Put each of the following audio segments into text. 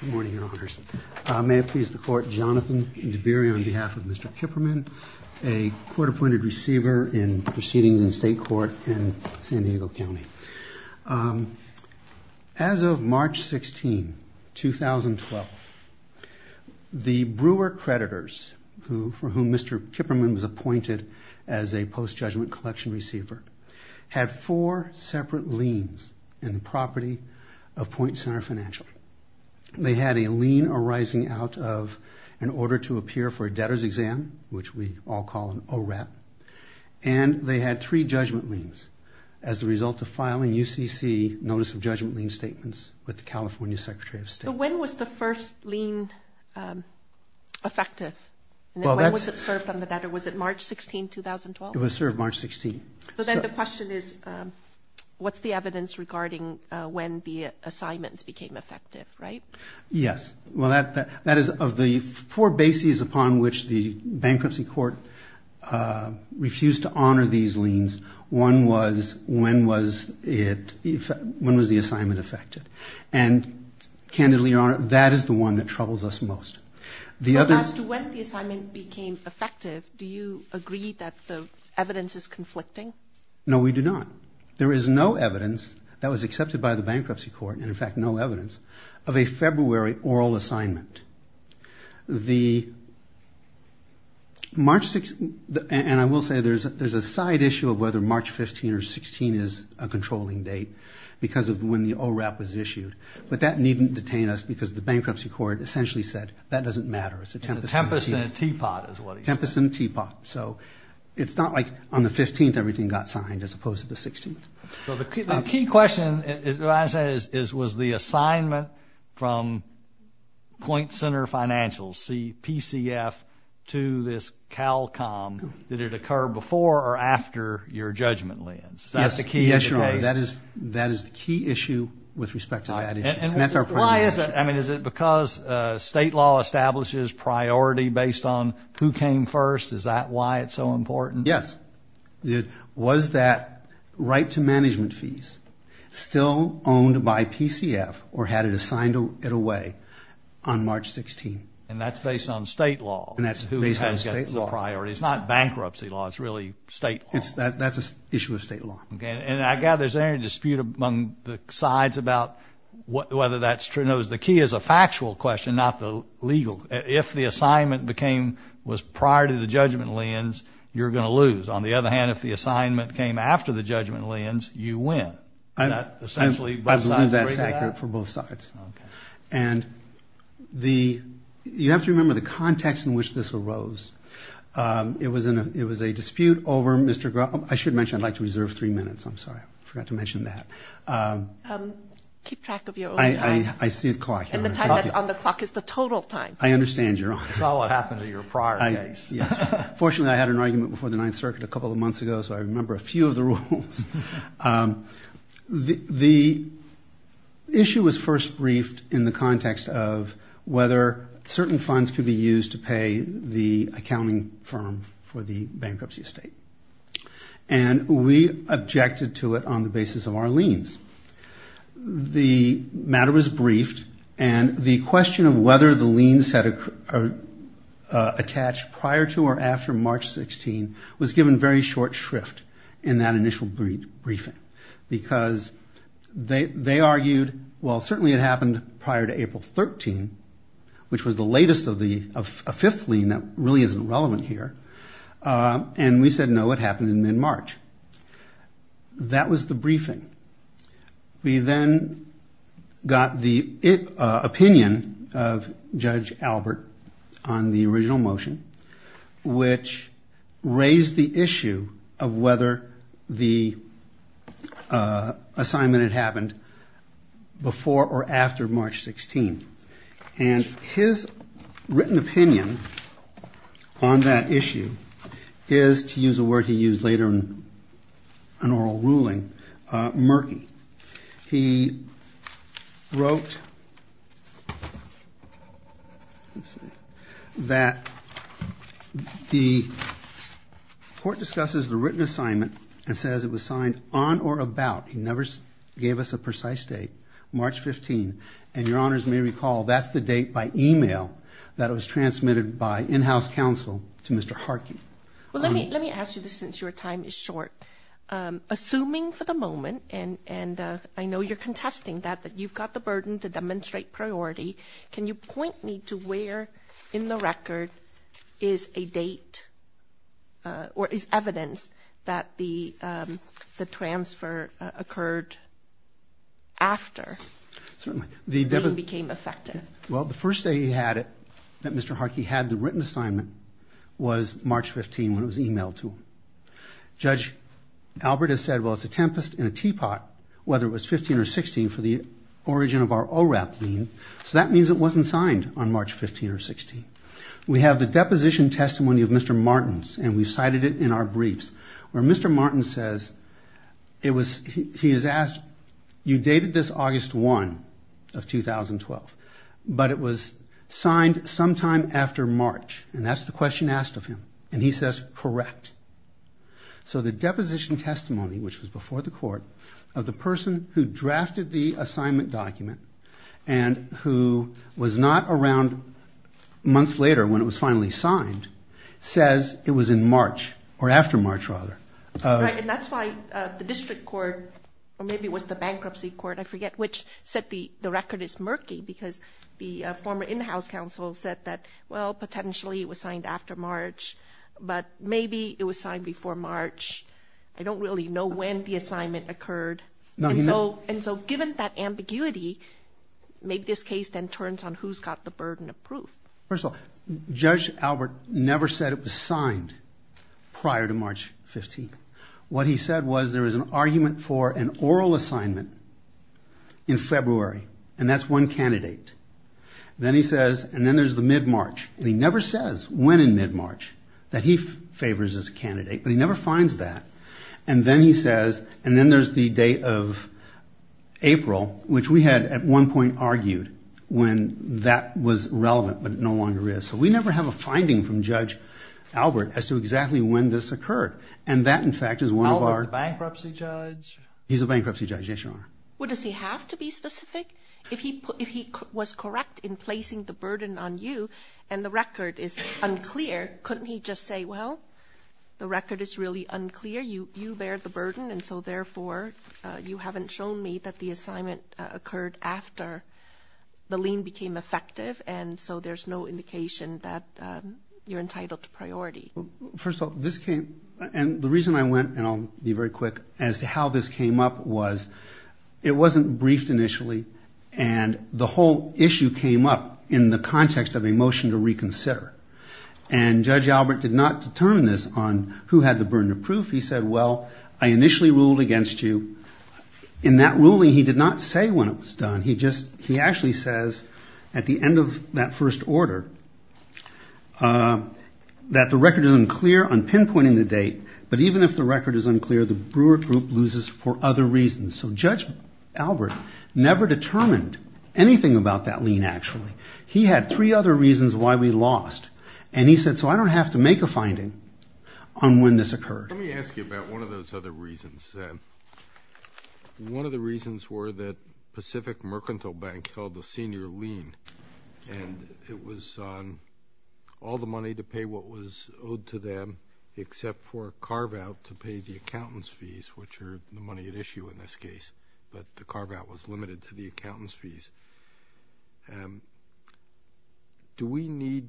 Good morning, Your Honors. May it please the Court, Jonathan Dabiri on behalf of Mr. Kipperman, a court-appointed receiver in proceedings in state court in San Diego County. As of March 16, 2012, the Brewer creditors, for whom Mr. Kipperman was appointed as a post-judgment collection receiver, had four separate liens in the property of Point Center Financial. They had a lien arising out of an order to appear for a debtor's exam, which we all call an ORAP, and they had three judgment liens as a result of filing UCC notice of judgment lien statements with the California Secretary of State. When was the first lien effective? When was it served on the debtor? Was it March 16, 2012? It was served March 16. But then the question is, what's the evidence regarding when the assignments became effective, right? Yes. Well, that is of the four bases upon which the bankruptcy court refused to honor these liens, one was when was the assignment effective. And, candidly, Your Honor, that is the one that troubles us most. But as to when the assignment became effective, do you agree that the evidence is conflicting? No, we do not. There is no evidence that was accepted by the bankruptcy court, and in fact no evidence, of a February oral assignment. And I will say there's a side issue of whether March 15 or 16 is a controlling date because of when the ORAP was issued, but that needn't detain us because the bankruptcy court essentially said that doesn't matter. It's a tempest in a teapot is what he said. Tempest in a teapot. So it's not like on the 15th everything got signed as opposed to the 16th. Well, the key question, what I'm saying is, was the assignment from Point Center Financials, PCF, to this CALCOM, did it occur before or after your judgment liens? Is that the key? Yes, Your Honor, that is the key issue with respect to that issue. And why is that? I mean, is it because state law establishes priority based on who came first? Is that why it's so important? Yes. Was that right to management fees still owned by PCF or had it assigned it away on March 16? And that's based on state law. And that's based on state law. It's not bankruptcy law. It's really state law. That's an issue of state law. And I gather there's no dispute among the sides about whether that's true. No, the key is a factual question, not the legal. If the assignment was prior to the judgment liens, you're going to lose. On the other hand, if the assignment came after the judgment liens, you win. And essentially both sides agree to that? Absolutely, that's accurate for both sides. And you have to remember the context in which this arose. It was a dispute over Mr. Grom. I should mention I'd like to reserve three minutes. I'm sorry, I forgot to mention that. Keep track of your own time. I see the clock. And the time that's on the clock is the total time. I understand, Your Honor. That's all that happened to your prior case. Fortunately, I had an argument before the Ninth Circuit a couple of months ago, so I remember a few of the rules. The issue was first briefed in the context of whether certain funds could be used to pay the accounting firm for the bankruptcy estate. And we objected to it on the basis of our liens. The matter was briefed. And the question of whether the liens had attached prior to or after March 16 was given very short shrift in that initial briefing. Because they argued, well, certainly it happened prior to April 13, which was the latest of a fifth lien that really isn't relevant here. And we said, no, it happened in mid-March. That was the briefing. We then got the opinion of Judge Albert on the original motion, which raised the issue of whether the assignment had happened before or after March 16. And his written opinion on that issue is, to use a word he used later in an oral ruling, murky. He wrote that the court discusses the written assignment and says it was signed on or about, he never gave us a precise date, March 15. And Your Honors may recall, that's the date by e-mail that was transmitted by in-house counsel to Mr. Harkin. Well, let me ask you this since your time is short. Assuming for the moment, and I know you're contesting that, that you've got the burden to demonstrate priority, can you point me to where in the record is a date or is evidence that the transfer occurred after? Certainly. The date became effective. Well, the first day he had it, that Mr. Harkin had the written assignment, was March 15 when it was e-mailed to him. Judge Albert has said, well, it's a tempest in a teapot, whether it was 15 or 16 for the origin of our ORAP lien. So that means it wasn't signed on March 15 or 16. We have the deposition testimony of Mr. Martins, and we've cited it in our briefs. Where Mr. Martins says, he is asked, you dated this August 1 of 2012, but it was signed sometime after March, and that's the question asked of him, and he says, correct. So the deposition testimony, which was before the court, of the person who drafted the assignment document and who was not around months later when it was finally signed, says it was in March, or after March, rather. Right, and that's why the district court, or maybe it was the bankruptcy court, I forget, which said the record is murky because the former in-house counsel said that, well, potentially it was signed after March, but maybe it was signed before March. I don't really know when the assignment occurred. And so given that ambiguity, maybe this case then turns on who's got the burden of proof. First of all, Judge Albert never said it was signed prior to March 15. What he said was there was an argument for an oral assignment in February, and that's one candidate. Then he says, and then there's the mid-March, and he never says when in mid-March that he favors this candidate, but he never finds that, and then he says, and then there's the date of April, which we had at one point argued when that was relevant, but it no longer is. So we never have a finding from Judge Albert as to exactly when this occurred. And that, in fact, is one of our- Albert, the bankruptcy judge? He's the bankruptcy judge, yes, Your Honor. Well, does he have to be specific? If he was correct in placing the burden on you and the record is unclear, couldn't he just say, well, the record is really unclear, you bear the burden, and so therefore you haven't shown me that the assignment occurred after the lien became effective, and so there's no indication that you're entitled to priority. First of all, this came-and the reason I went, and I'll be very quick, as to how this came up was it wasn't briefed initially, and the whole issue came up in the context of a motion to reconsider. And Judge Albert did not determine this on who had the burden of proof. He said, well, I initially ruled against you. In that ruling, he did not say when it was done. He actually says at the end of that first order that the record is unclear on pinpointing the date, but even if the record is unclear, the Brewer Group loses for other reasons. So Judge Albert never determined anything about that lien, actually. He had three other reasons why we lost, and he said, so I don't have to make a finding on when this occurred. Let me ask you about one of those other reasons. One of the reasons were that Pacific Mercantile Bank held the senior lien, and it was on all the money to pay what was owed to them except for a carve-out to pay the accountant's fees, which are the money at issue in this case, but the carve-out was limited to the accountant's fees. Do we need,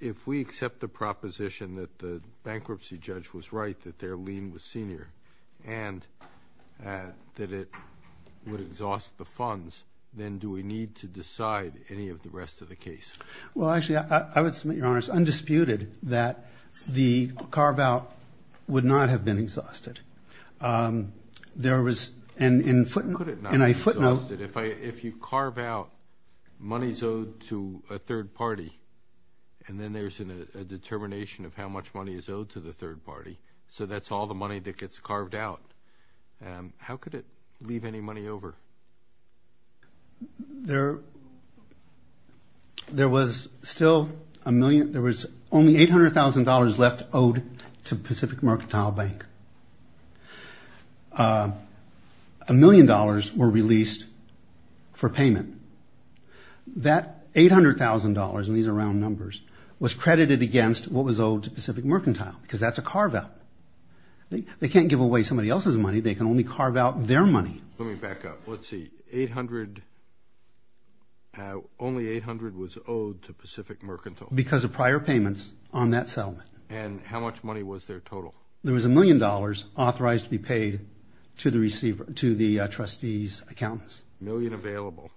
if we accept the proposition that the bankruptcy judge was right that their lien was senior and that it would exhaust the funds, then do we need to decide any of the rest of the case? Well, actually, I would submit, Your Honors, undisputed that the carve-out would not have been exhausted. How could it not have been exhausted? If you carve out money is owed to a third party, and then there's a determination of how much money is owed to the third party, so that's all the money that gets carved out, how could it leave any money over? There was still a million, there was only $800,000 left owed to Pacific Mercantile Bank. A million dollars were released for payment. That $800,000, and these are round numbers, was credited against what was owed to Pacific Mercantile, because that's a carve-out. They can't give away somebody else's money. They can only carve out their money. Let me back up. Let's see. Only $800,000 was owed to Pacific Mercantile. Because of prior payments on that settlement. And how much money was there total? There was a million dollars authorized to be paid to the trustee's accountants. A million available.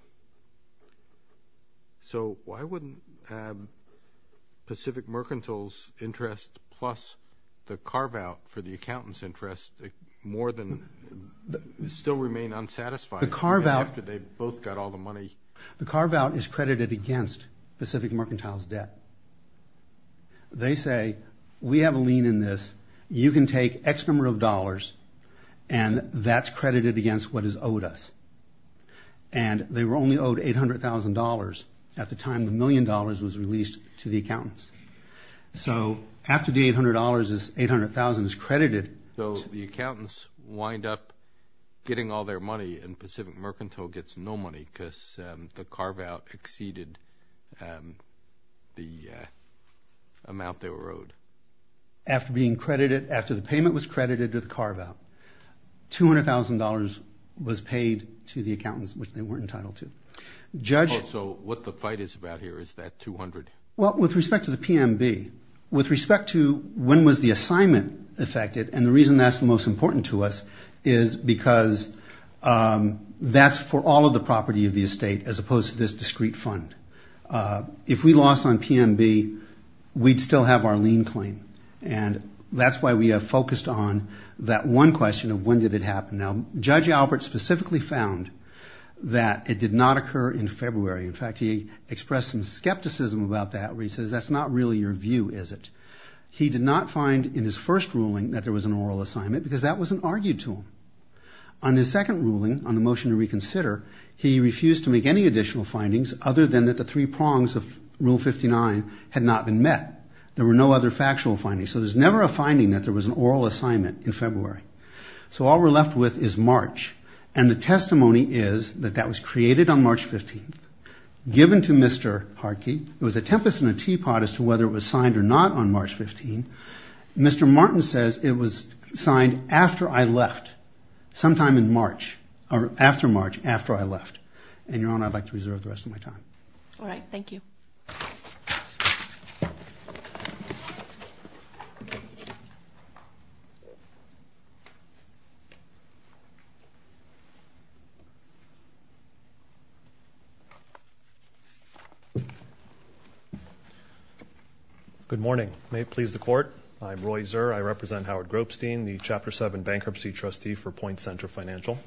So why wouldn't Pacific Mercantile's interest plus the carve-out for the accountant's interest more than still remain unsatisfied after they both got all the money? The carve-out is credited against Pacific Mercantile's debt. They say, we have a lien in this, you can take X number of dollars, and that's credited against what is owed us. And they were only owed $800,000 at the time the million dollars was released to the accountants. So after the $800,000 is credited. So the accountants wind up getting all their money and Pacific Mercantile gets no money because the carve-out exceeded the amount they were owed. After the payment was credited to the carve-out, $200,000 was paid to the accountants, which they weren't entitled to. So what the fight is about here, is that $200,000? Well, with respect to the PMB, with respect to when was the assignment affected, and the reason that's the most important to us is because that's for all of the property of the estate as opposed to this discrete fund. If we lost on PMB, we'd still have our lien claim. And that's why we have focused on that one question of when did it happen. Now, Judge Albert specifically found that it did not occur in February. In fact, he expressed some skepticism about that where he says, that's not really your view, is it? He did not find in his first ruling that there was an oral assignment because that wasn't argued to him. On his second ruling, on the motion to reconsider, he refused to make any additional findings other than that the three prongs of Rule 59 had not been met. There were no other factual findings. So there's never a finding that there was an oral assignment in February. So all we're left with is March. And the testimony is that that was created on March 15th, given to Mr. Hartke. It was a tempest in a teapot as to whether it was signed or not on March 15th. Mr. Martin says it was signed after I left, sometime in March, or after March, after I left. And, Your Honor, I'd like to reserve the rest of my time. All right. Thank you. Thank you. Good morning. May it please the Court. I'm Roy Zerr. I represent Howard Gropestein, the Chapter 7 Bankruptcy Trustee for Point Center Financial.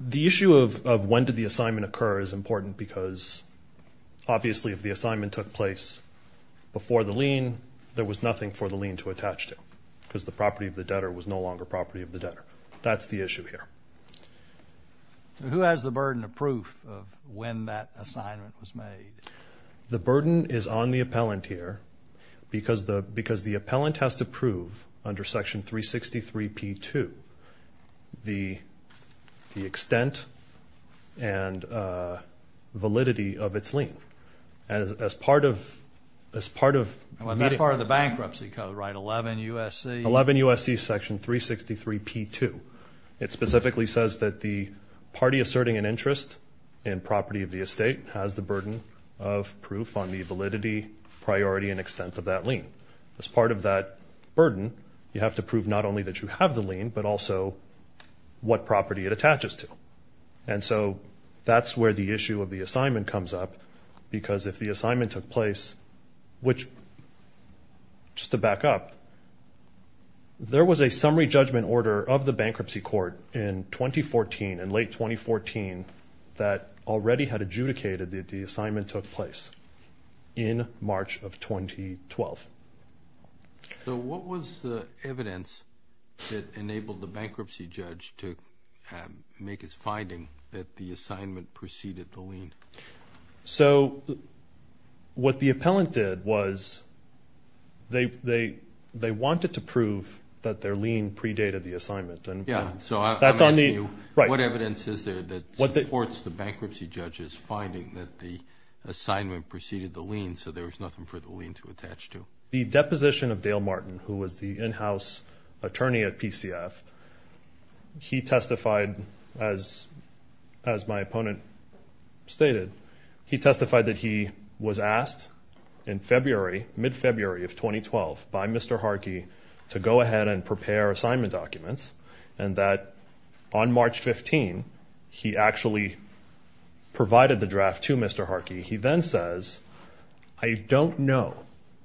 The issue of when did the assignment occur is important because obviously if the assignment took place before the lien, there was nothing for the lien to attach to because the property of the debtor was no longer property of the debtor. That's the issue here. Who has the burden of proof of when that assignment was made? The burden is on the appellant here because the appellant has to prove under Section 363P2 the extent and validity of its lien. That's part of the bankruptcy code, right? 11 U.S.C.? 11 U.S.C. Section 363P2. It specifically says that the party asserting an interest in property of the estate has the burden of proof on the validity, priority, and extent of that lien. As part of that burden, you have to prove not only that you have the lien but also what property it attaches to. That's where the issue of the assignment comes up because if the assignment took place, which just to back up, there was a summary judgment order of the bankruptcy court in 2014, in late 2014, that already had adjudicated that the assignment took place in March of 2012. What was the evidence that enabled the bankruptcy judge to make his finding that the assignment preceded the lien? What the appellant did was they wanted to prove that their lien predated the assignment. I'm asking you what evidence is there that supports the bankruptcy judge's finding that the assignment preceded the lien so there was nothing for the lien to attach to? The deposition of Dale Martin, who was the in-house attorney at PCF, he testified, as my opponent stated, he testified that he was asked in mid-February of 2012 by Mr. Harkey to go ahead and prepare assignment documents and that on March 15, he actually provided the draft to Mr. Harkey. He then says, I don't know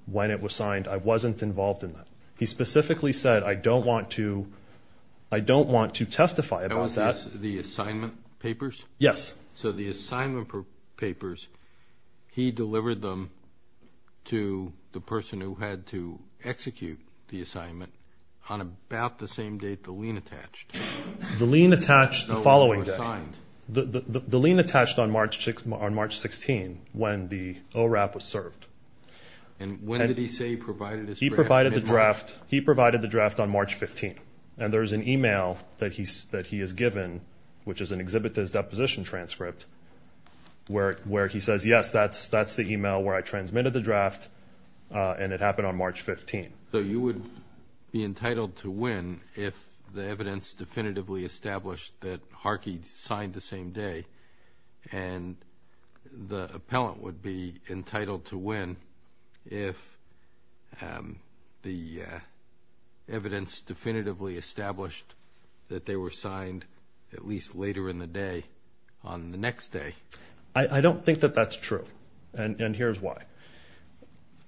when it was signed. I wasn't involved in that. He specifically said, I don't want to testify about that. That was the assignment papers? Yes. So the assignment papers, he delivered them to the person who had to execute the assignment on about the same date the lien attached. The lien attached the following day. The lien attached on March 16 when the ORAP was served. And when did he say he provided his draft? He provided the draft on March 15. And there's an email that he has given, which is an exhibit to his deposition transcript, where he says, yes, that's the email where I transmitted the draft, and it happened on March 15. So you would be entitled to win if the evidence definitively established that Harkey signed the same day, and the appellant would be entitled to win if the evidence definitively established that they were signed at least later in the day on the next day. I don't think that that's true, and here's why.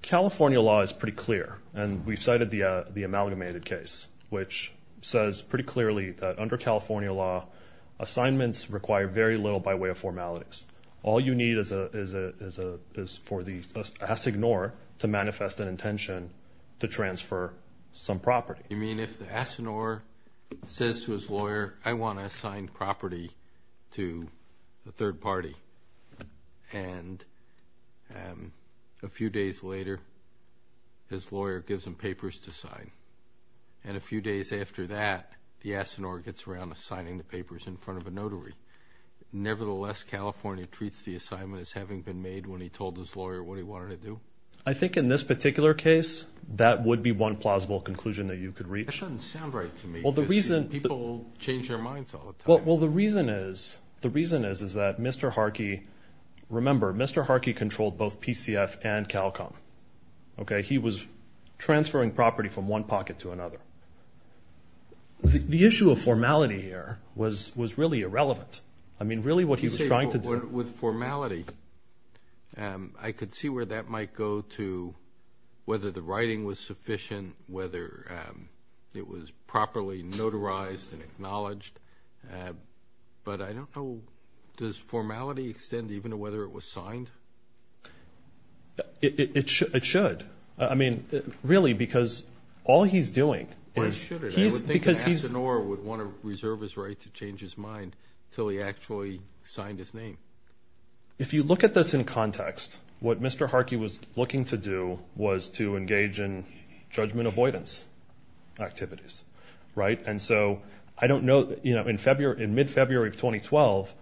California law is pretty clear, and we've cited the amalgamated case, which says pretty clearly that under California law, assignments require very little by way of formalities. All you need is for the assignor to manifest an intention to transfer some property. You mean if the assignor says to his lawyer, I want to assign property to a third party, and a few days later his lawyer gives him papers to sign, and a few days after that the assignor gets around to signing the papers in front of a notary. Nevertheless, California treats the assignment as having been made when he told his lawyer what he wanted to do. I think in this particular case that would be one plausible conclusion that you could reach. That doesn't sound right to me. People change their minds all the time. Well, the reason is that Mr. Harkey, remember, Mr. Harkey controlled both PCF and CALCOM. He was transferring property from one pocket to another. The issue of formality here was really irrelevant. I mean, really what he was trying to do. With formality, I could see where that might go to whether the writing was sufficient, whether it was properly notarized and acknowledged. But I don't know, does formality extend even to whether it was signed? It should. I mean, really, because all he's doing is he's because he's. I would think an assignor would want to reserve his right to change his mind until he actually signed his name. If you look at this in context, what Mr. Harkey was looking to do was to engage in judgment avoidance activities, right? And so I don't know. In mid-February of 2012,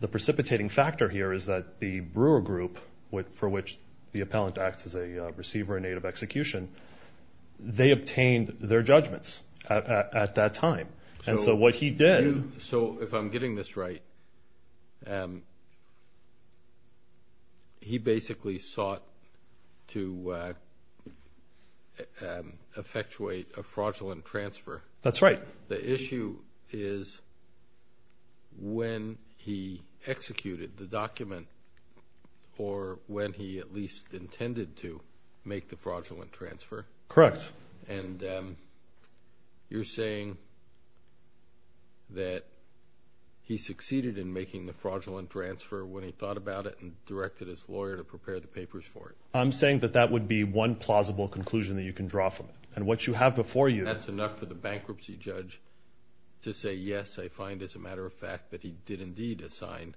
the precipitating factor here is that the Brewer Group, for which the appellant acts as a receiver in aid of execution, they obtained their judgments at that time. So if I'm getting this right, he basically sought to effectuate a fraudulent transfer. That's right. The issue is when he executed the document or when he at least intended to make the fraudulent transfer. Correct. And you're saying that he succeeded in making the fraudulent transfer when he thought about it and directed his lawyer to prepare the papers for it? I'm saying that that would be one plausible conclusion that you can draw from it. And what you have before you... That's enough for the bankruptcy judge to say, yes, I find as a matter of fact that he did indeed assign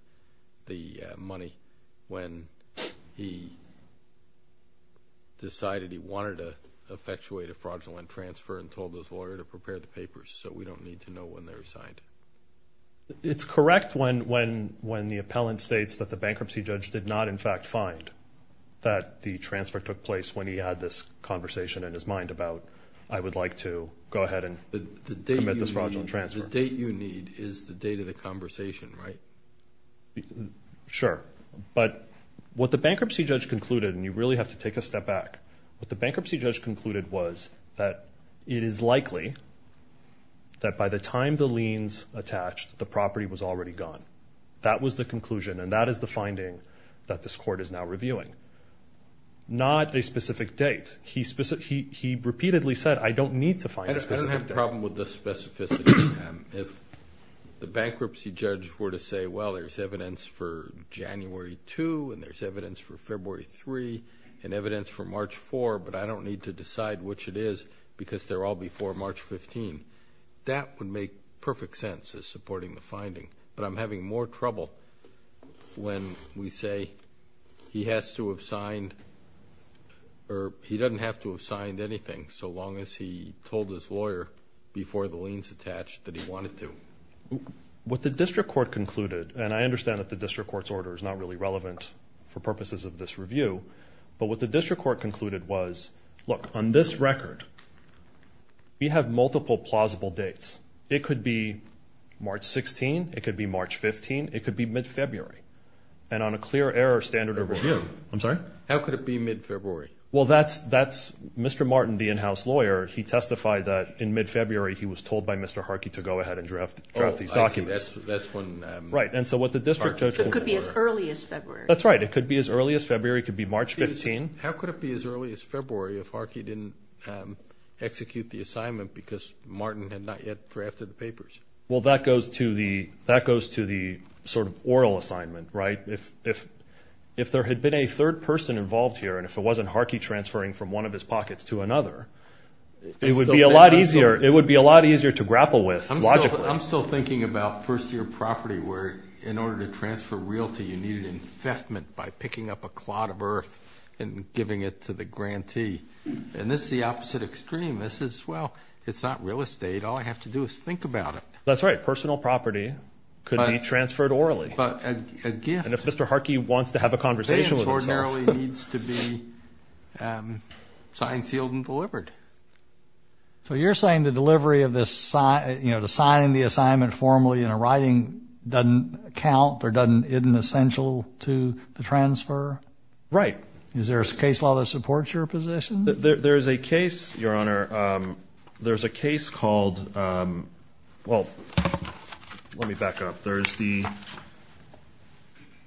the money when he decided he wanted to effectuate a fraudulent transfer and told his lawyer to prepare the papers, so we don't need to know when they were signed. It's correct when the appellant states that the bankruptcy judge did not in fact find that the transfer took place when he had this conversation in his mind about, I would like to go ahead and commit this fraudulent transfer. The date you need is the date of the conversation, right? Sure. But what the bankruptcy judge concluded, and you really have to take a step back, what the bankruptcy judge concluded was that it is likely that by the time the liens attached, the property was already gone. That was the conclusion, and that is the finding that this court is now reviewing. Not a specific date. He repeatedly said, I don't need to find a specific date. I don't have a problem with the specificity of time. If the bankruptcy judge were to say, well, there's evidence for January 2 and there's evidence for February 3 and evidence for March 4, but I don't need to decide which it is because they're all before March 15, that would make perfect sense as supporting the finding. But I'm having more trouble when we say he has to have signed or he doesn't have to have signed anything so long as he told his lawyer before the liens attached that he wanted to. What the district court concluded, and I understand that the district court's order is not really relevant for purposes of this review, but what the district court concluded was, look, on this record, we have multiple plausible dates. It could be March 16. It could be March 15. It could be mid-February. And on a clear error standard of review. I'm sorry? How could it be mid-February? Well, that's Mr. Martin, the in-house lawyer. He testified that in mid-February he was told by Mr. Harkey to go ahead and draft these documents. Oh, I see. That's when. Right, and so what the district judge. It could be as early as February. That's right. It could be as early as February. It could be March 15. How could it be as early as February if Harkey didn't execute the assignment because Martin had not yet drafted the papers? Well, that goes to the sort of oral assignment, right? If there had been a third person involved here and if it wasn't Harkey transferring from one of his pockets to another, it would be a lot easier to grapple with logically. I'm still thinking about first-year property where in order to transfer realty, you needed infestment by picking up a clod of earth and giving it to the grantee. And this is the opposite extreme. This is, well, it's not real estate. All I have to do is think about it. That's right. Personal property could be transferred orally. But a gift. And if Mr. Harkey wants to have a conversation with himself. It really needs to be signed, sealed, and delivered. So you're saying the delivery of this, you know, the signing of the assignment formally in a writing doesn't count or isn't essential to the transfer? Right. Is there a case law that supports your position? There's a case, Your Honor. There's a case called, well, let me back up. There's the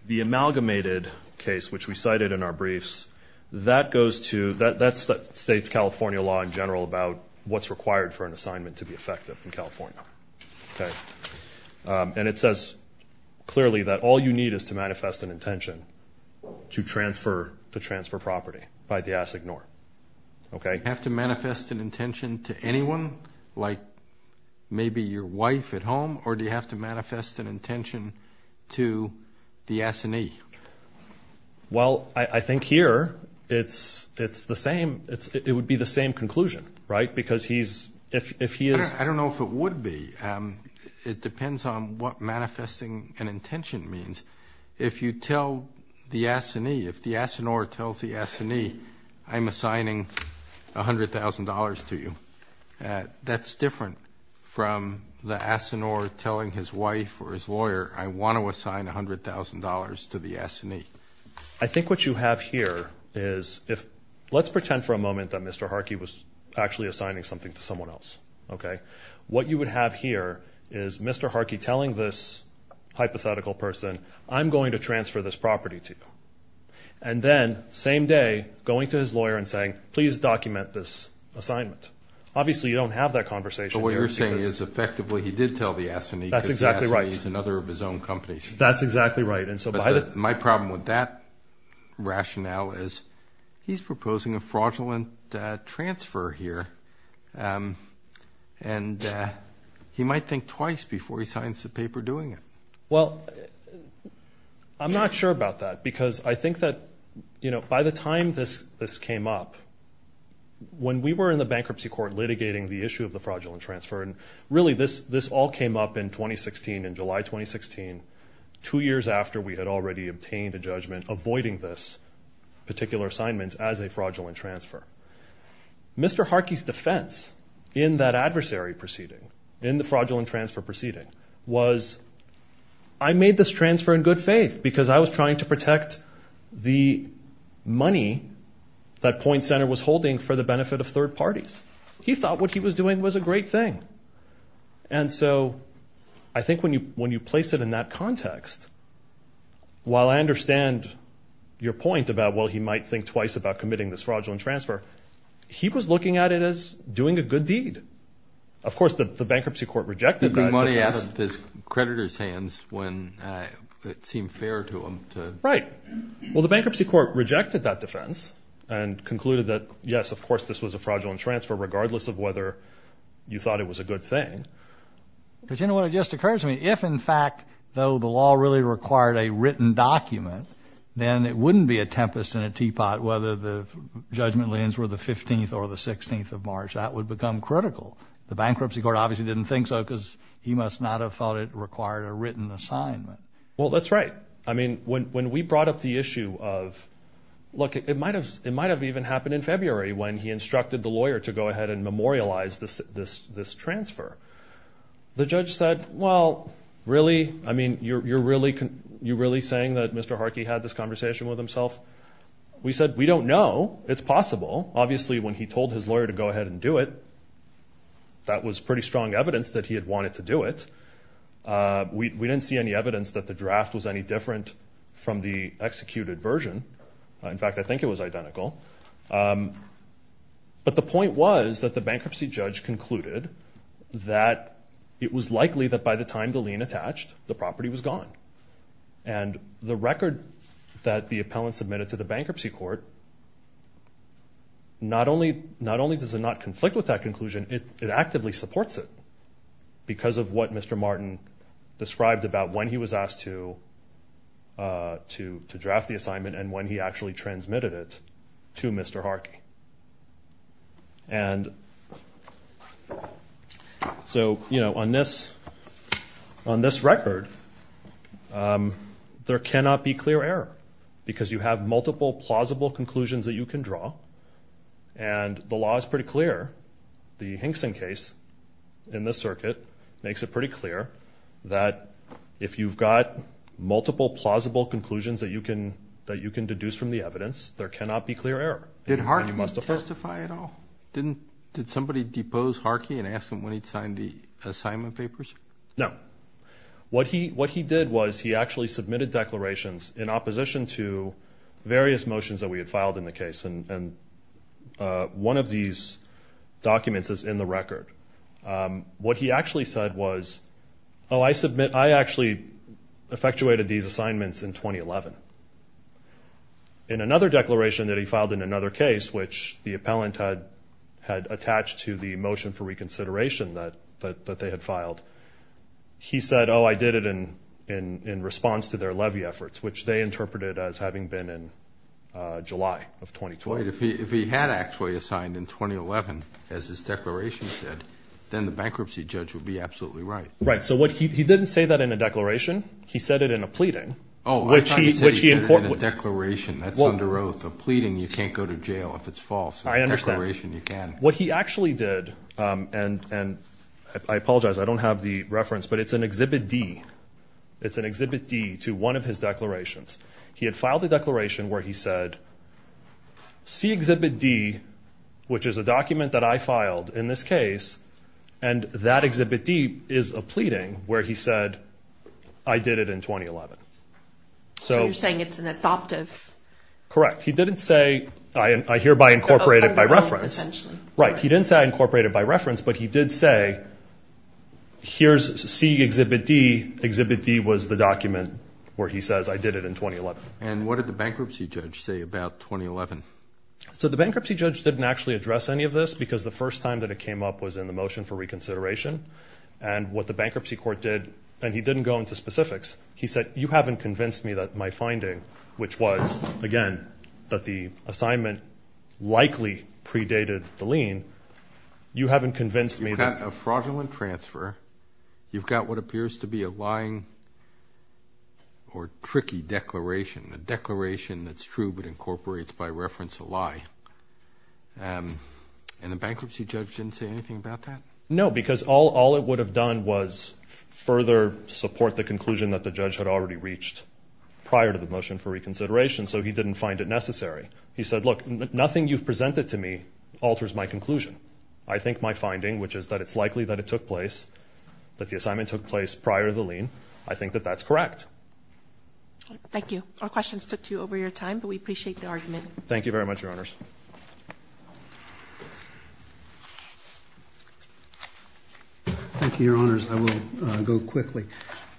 amalgamated case, which we cited in our briefs. That goes to, that states California law in general about what's required for an assignment to be effective in California. Okay. And it says clearly that all you need is to manifest an intention to transfer property. If I had to ask, ignore. Okay. Do you have to manifest an intention to anyone, like maybe your wife at home, or do you have to manifest an intention to the assignee? Well, I think here it's the same. It would be the same conclusion, right? Because he's, if he is. I don't know if it would be. It depends on what manifesting an intention means. If you tell the assignee, if the assignor tells the assignee, I'm assigning $100,000 to you. That's different from the assignor telling his wife or his lawyer, I want to assign $100,000 to the assignee. I think what you have here is if, let's pretend for a moment that Mr. Harkey was actually assigning something to someone else. Okay. What you would have here is Mr. Harkey telling this hypothetical person, I'm going to transfer this property to you. And then, same day, going to his lawyer and saying, please document this assignment. Obviously you don't have that conversation. But what you're saying is effectively he did tell the assignee because the assignee is another of his own companies. That's exactly right. But my problem with that rationale is he's proposing a fraudulent transfer here, and he might think twice before he signs the paper doing it. Well, I'm not sure about that because I think that, you know, by the time this came up, when we were in the bankruptcy court litigating the issue of the fraudulent transfer, and really this all came up in 2016, in July 2016, two years after we had already obtained a judgment avoiding this particular assignment as a fraudulent transfer. Mr. Harkey's defense in that adversary proceeding, in the fraudulent transfer proceeding, was I made this transfer in good faith because I was trying to protect the money that Point Center was holding for the benefit of third parties. He thought what he was doing was a great thing. And so I think when you place it in that context, while I understand your point about, well, he might think twice about committing this fraudulent transfer, he was looking at it as doing a good deed. Of course, the bankruptcy court rejected that. The money out of his creditor's hands when it seemed fair to him to. Right. Well, the bankruptcy court rejected that defense and concluded that, yes, of course, this was a fraudulent transfer regardless of whether you thought it was a good thing. But you know what just occurs to me? If, in fact, though the law really required a written document, then it wouldn't be a tempest in a teapot whether the judgment lands were the 15th or the 16th of March. That would become critical. The bankruptcy court obviously didn't think so because he must not have thought it required a written assignment. Well, that's right. I mean, when we brought up the issue of, look, it might have even happened in February when he instructed the lawyer to go ahead and memorialize this transfer. The judge said, well, really? I mean, you're really saying that Mr. Harkey had this conversation with himself? We said, we don't know. It's possible. Obviously, when he told his lawyer to go ahead and do it, that was pretty strong evidence that he had wanted to do it. We didn't see any evidence that the draft was any different from the executed version. In fact, I think it was identical. But the point was that the bankruptcy judge concluded that it was likely that by the time the lien attached, the property was gone. And the record that the appellant submitted to the bankruptcy court, not only does it not conflict with that conclusion, it actively supports it because of what Mr. Martin described about when he was asked to draft the assignment and when he actually transmitted it to Mr. Harkey. And so, you know, on this record, there cannot be clear error because you have multiple plausible conclusions that you can draw, and the law is pretty clear. The Hinkson case in this circuit makes it pretty clear that if you've got multiple plausible conclusions that you can deduce from the evidence, there cannot be clear error. Did Harkey testify at all? Did somebody depose Harkey and ask him when he'd signed the assignment papers? No. What he did was he actually submitted declarations in opposition to various motions that we had filed in the case. And one of these documents is in the record. What he actually said was, oh, I submit, I actually effectuated these assignments in 2011. In another declaration that he filed in another case, which the appellant had attached to the motion for reconsideration that they had filed, he said, oh, I did it in response to their levy efforts, which they interpreted as having been in July of 2012. Wait. If he had actually assigned in 2011, as his declaration said, then the bankruptcy judge would be absolutely right. Right. So he didn't say that in a declaration. He said it in a pleading. Oh, I thought he said he did it in a declaration. That's under oath. A pleading, you can't go to jail if it's false. I understand. A declaration, you can. What he actually did, and I apologize, I don't have the reference, but it's in Exhibit D. It's in Exhibit D to one of his declarations. He had filed a declaration where he said, see Exhibit D, which is a document that I filed in this case, and that Exhibit D is a pleading where he said, I did it in 2011. So you're saying it's an adoptive. Correct. He didn't say, I hereby incorporate it by reference. Essentially. Right. He didn't say I incorporate it by reference, but he did say, here's see Exhibit D. Exhibit D was the document where he says, I did it in 2011. And what did the bankruptcy judge say about 2011? So the bankruptcy judge didn't actually address any of this because the first time that it came up was in the motion for reconsideration. And what the bankruptcy court did, and he didn't go into specifics, he said, you haven't convinced me that my finding, which was, again, that the assignment likely predated the lien, you haven't convinced me that. You've got a fraudulent transfer. You've got what appears to be a lying or tricky declaration, a declaration that's true but incorporates by reference a lie. And the bankruptcy judge didn't say anything about that? No, because all it would have done was further support the conclusion that the judge had already reached prior to the motion for reconsideration, so he didn't find it necessary. He said, look, nothing you've presented to me alters my conclusion. I think my finding, which is that it's likely that it took place, that the assignment took place prior to the lien, I think that that's correct. Thank you. Our questions took you over your time, but we appreciate the argument. Thank you very much, Your Honors. Thank you, Your Honors. I will go quickly.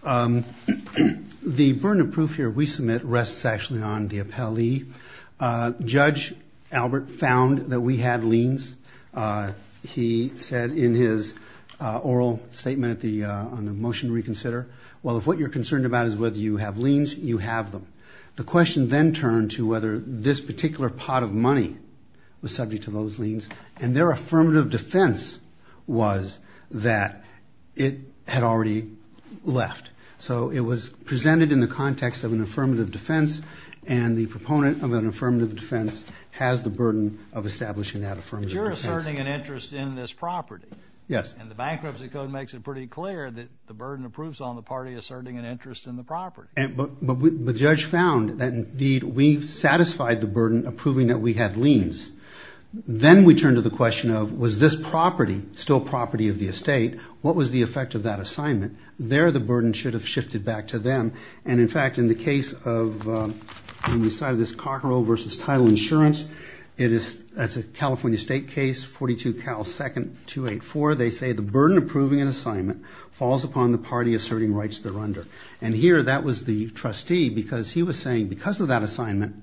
The burden of proof here we submit rests actually on the appellee. Judge Albert found that we had liens. He said in his oral statement on the motion to reconsider, well, if what you're concerned about is whether you have liens, you have them. The question then turned to whether this particular pot of money was subject to those liens, and their affirmative defense was that it had already left. So it was presented in the context of an affirmative defense, and the proponent of an affirmative defense has the burden of establishing that affirmative defense. But you're asserting an interest in this property. Yes. And the Bankruptcy Code makes it pretty clear that the burden of proof is on the party asserting an interest in the property. But the judge found that, indeed, we satisfied the burden of proving that we had liens. Then we turned to the question of, was this property still property of the estate? What was the effect of that assignment? There the burden should have shifted back to them. And, in fact, in the case of on the side of this Cockerell v. Title Insurance, it is a California State case, 42 Cal 2nd 284. They say the burden of proving an assignment falls upon the party asserting rights thereunder. And here that was the trustee because he was saying because of that assignment,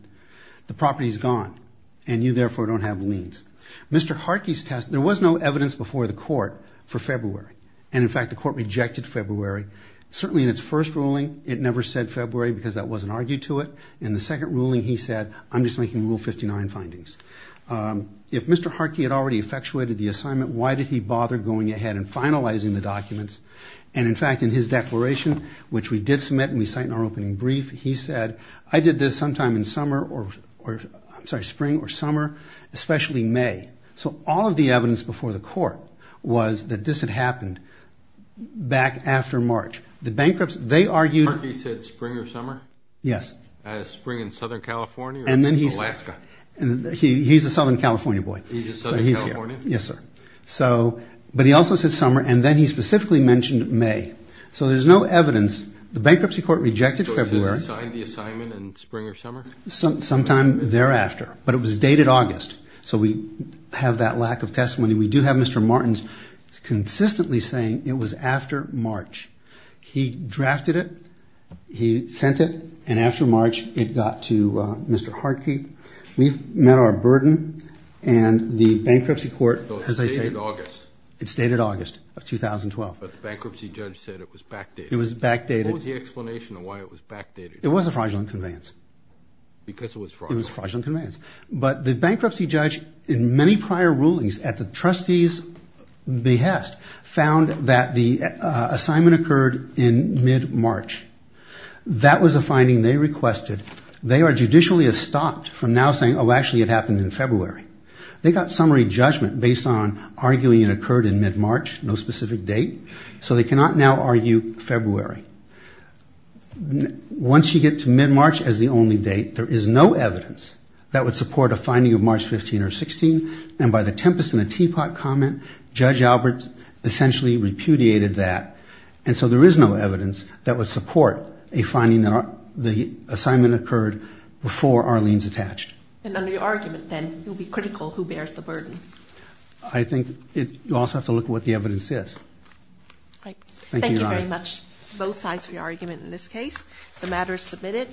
the property is gone, and you, therefore, don't have liens. Mr. Harkey's test, there was no evidence before the court for February. And, in fact, the court rejected February. Certainly in its first ruling, it never said February because that wasn't argued to it. In the second ruling, he said, I'm just making Rule 59 findings. If Mr. Harkey had already effectuated the assignment, why did he bother going ahead and finalizing the documents? And, in fact, in his declaration, which we did submit and we cite in our opening brief, he said, I did this sometime in spring or summer, especially May. So all of the evidence before the court was that this had happened back after March. The bankruptcy, they argued. Mr. Harkey said spring or summer? Yes. Spring in Southern California or Alaska? He's a Southern California boy. He's a Southern Californian? Yes, sir. But he also said summer, and then he specifically mentioned May. So there's no evidence. The bankruptcy court rejected February. So it says he signed the assignment in spring or summer? Sometime thereafter, but it was dated August. So we have that lack of testimony. We do have Mr. Martins consistently saying it was after March. He drafted it. He sent it. And after March, it got to Mr. Harkey. We've met our burden. And the bankruptcy court, as I say, it's dated August of 2012. But the bankruptcy judge said it was backdated. It was backdated. What was the explanation of why it was backdated? It was a fraudulent conveyance. Because it was fraudulent? It was a fraudulent conveyance. But the bankruptcy judge, in many prior rulings at the trustee's behest, found that the assignment occurred in mid-March. That was a finding they requested. They are judicially estopped from now saying, oh, actually, it happened in February. They got summary judgment based on arguing it occurred in mid-March, no specific date. So they cannot now argue February. Once you get to mid-March as the only date, there is no evidence that would support a finding of March 15 or 16. And by the tempest in a teapot comment, Judge Alberts essentially repudiated that. And so there is no evidence that would support a finding that the assignment occurred before Arlene's attached. And under your argument, then, it would be critical who bears the burden. I think you also have to look at what the evidence is. Thank you very much, both sides, for your argument in this case. The matter is submitted.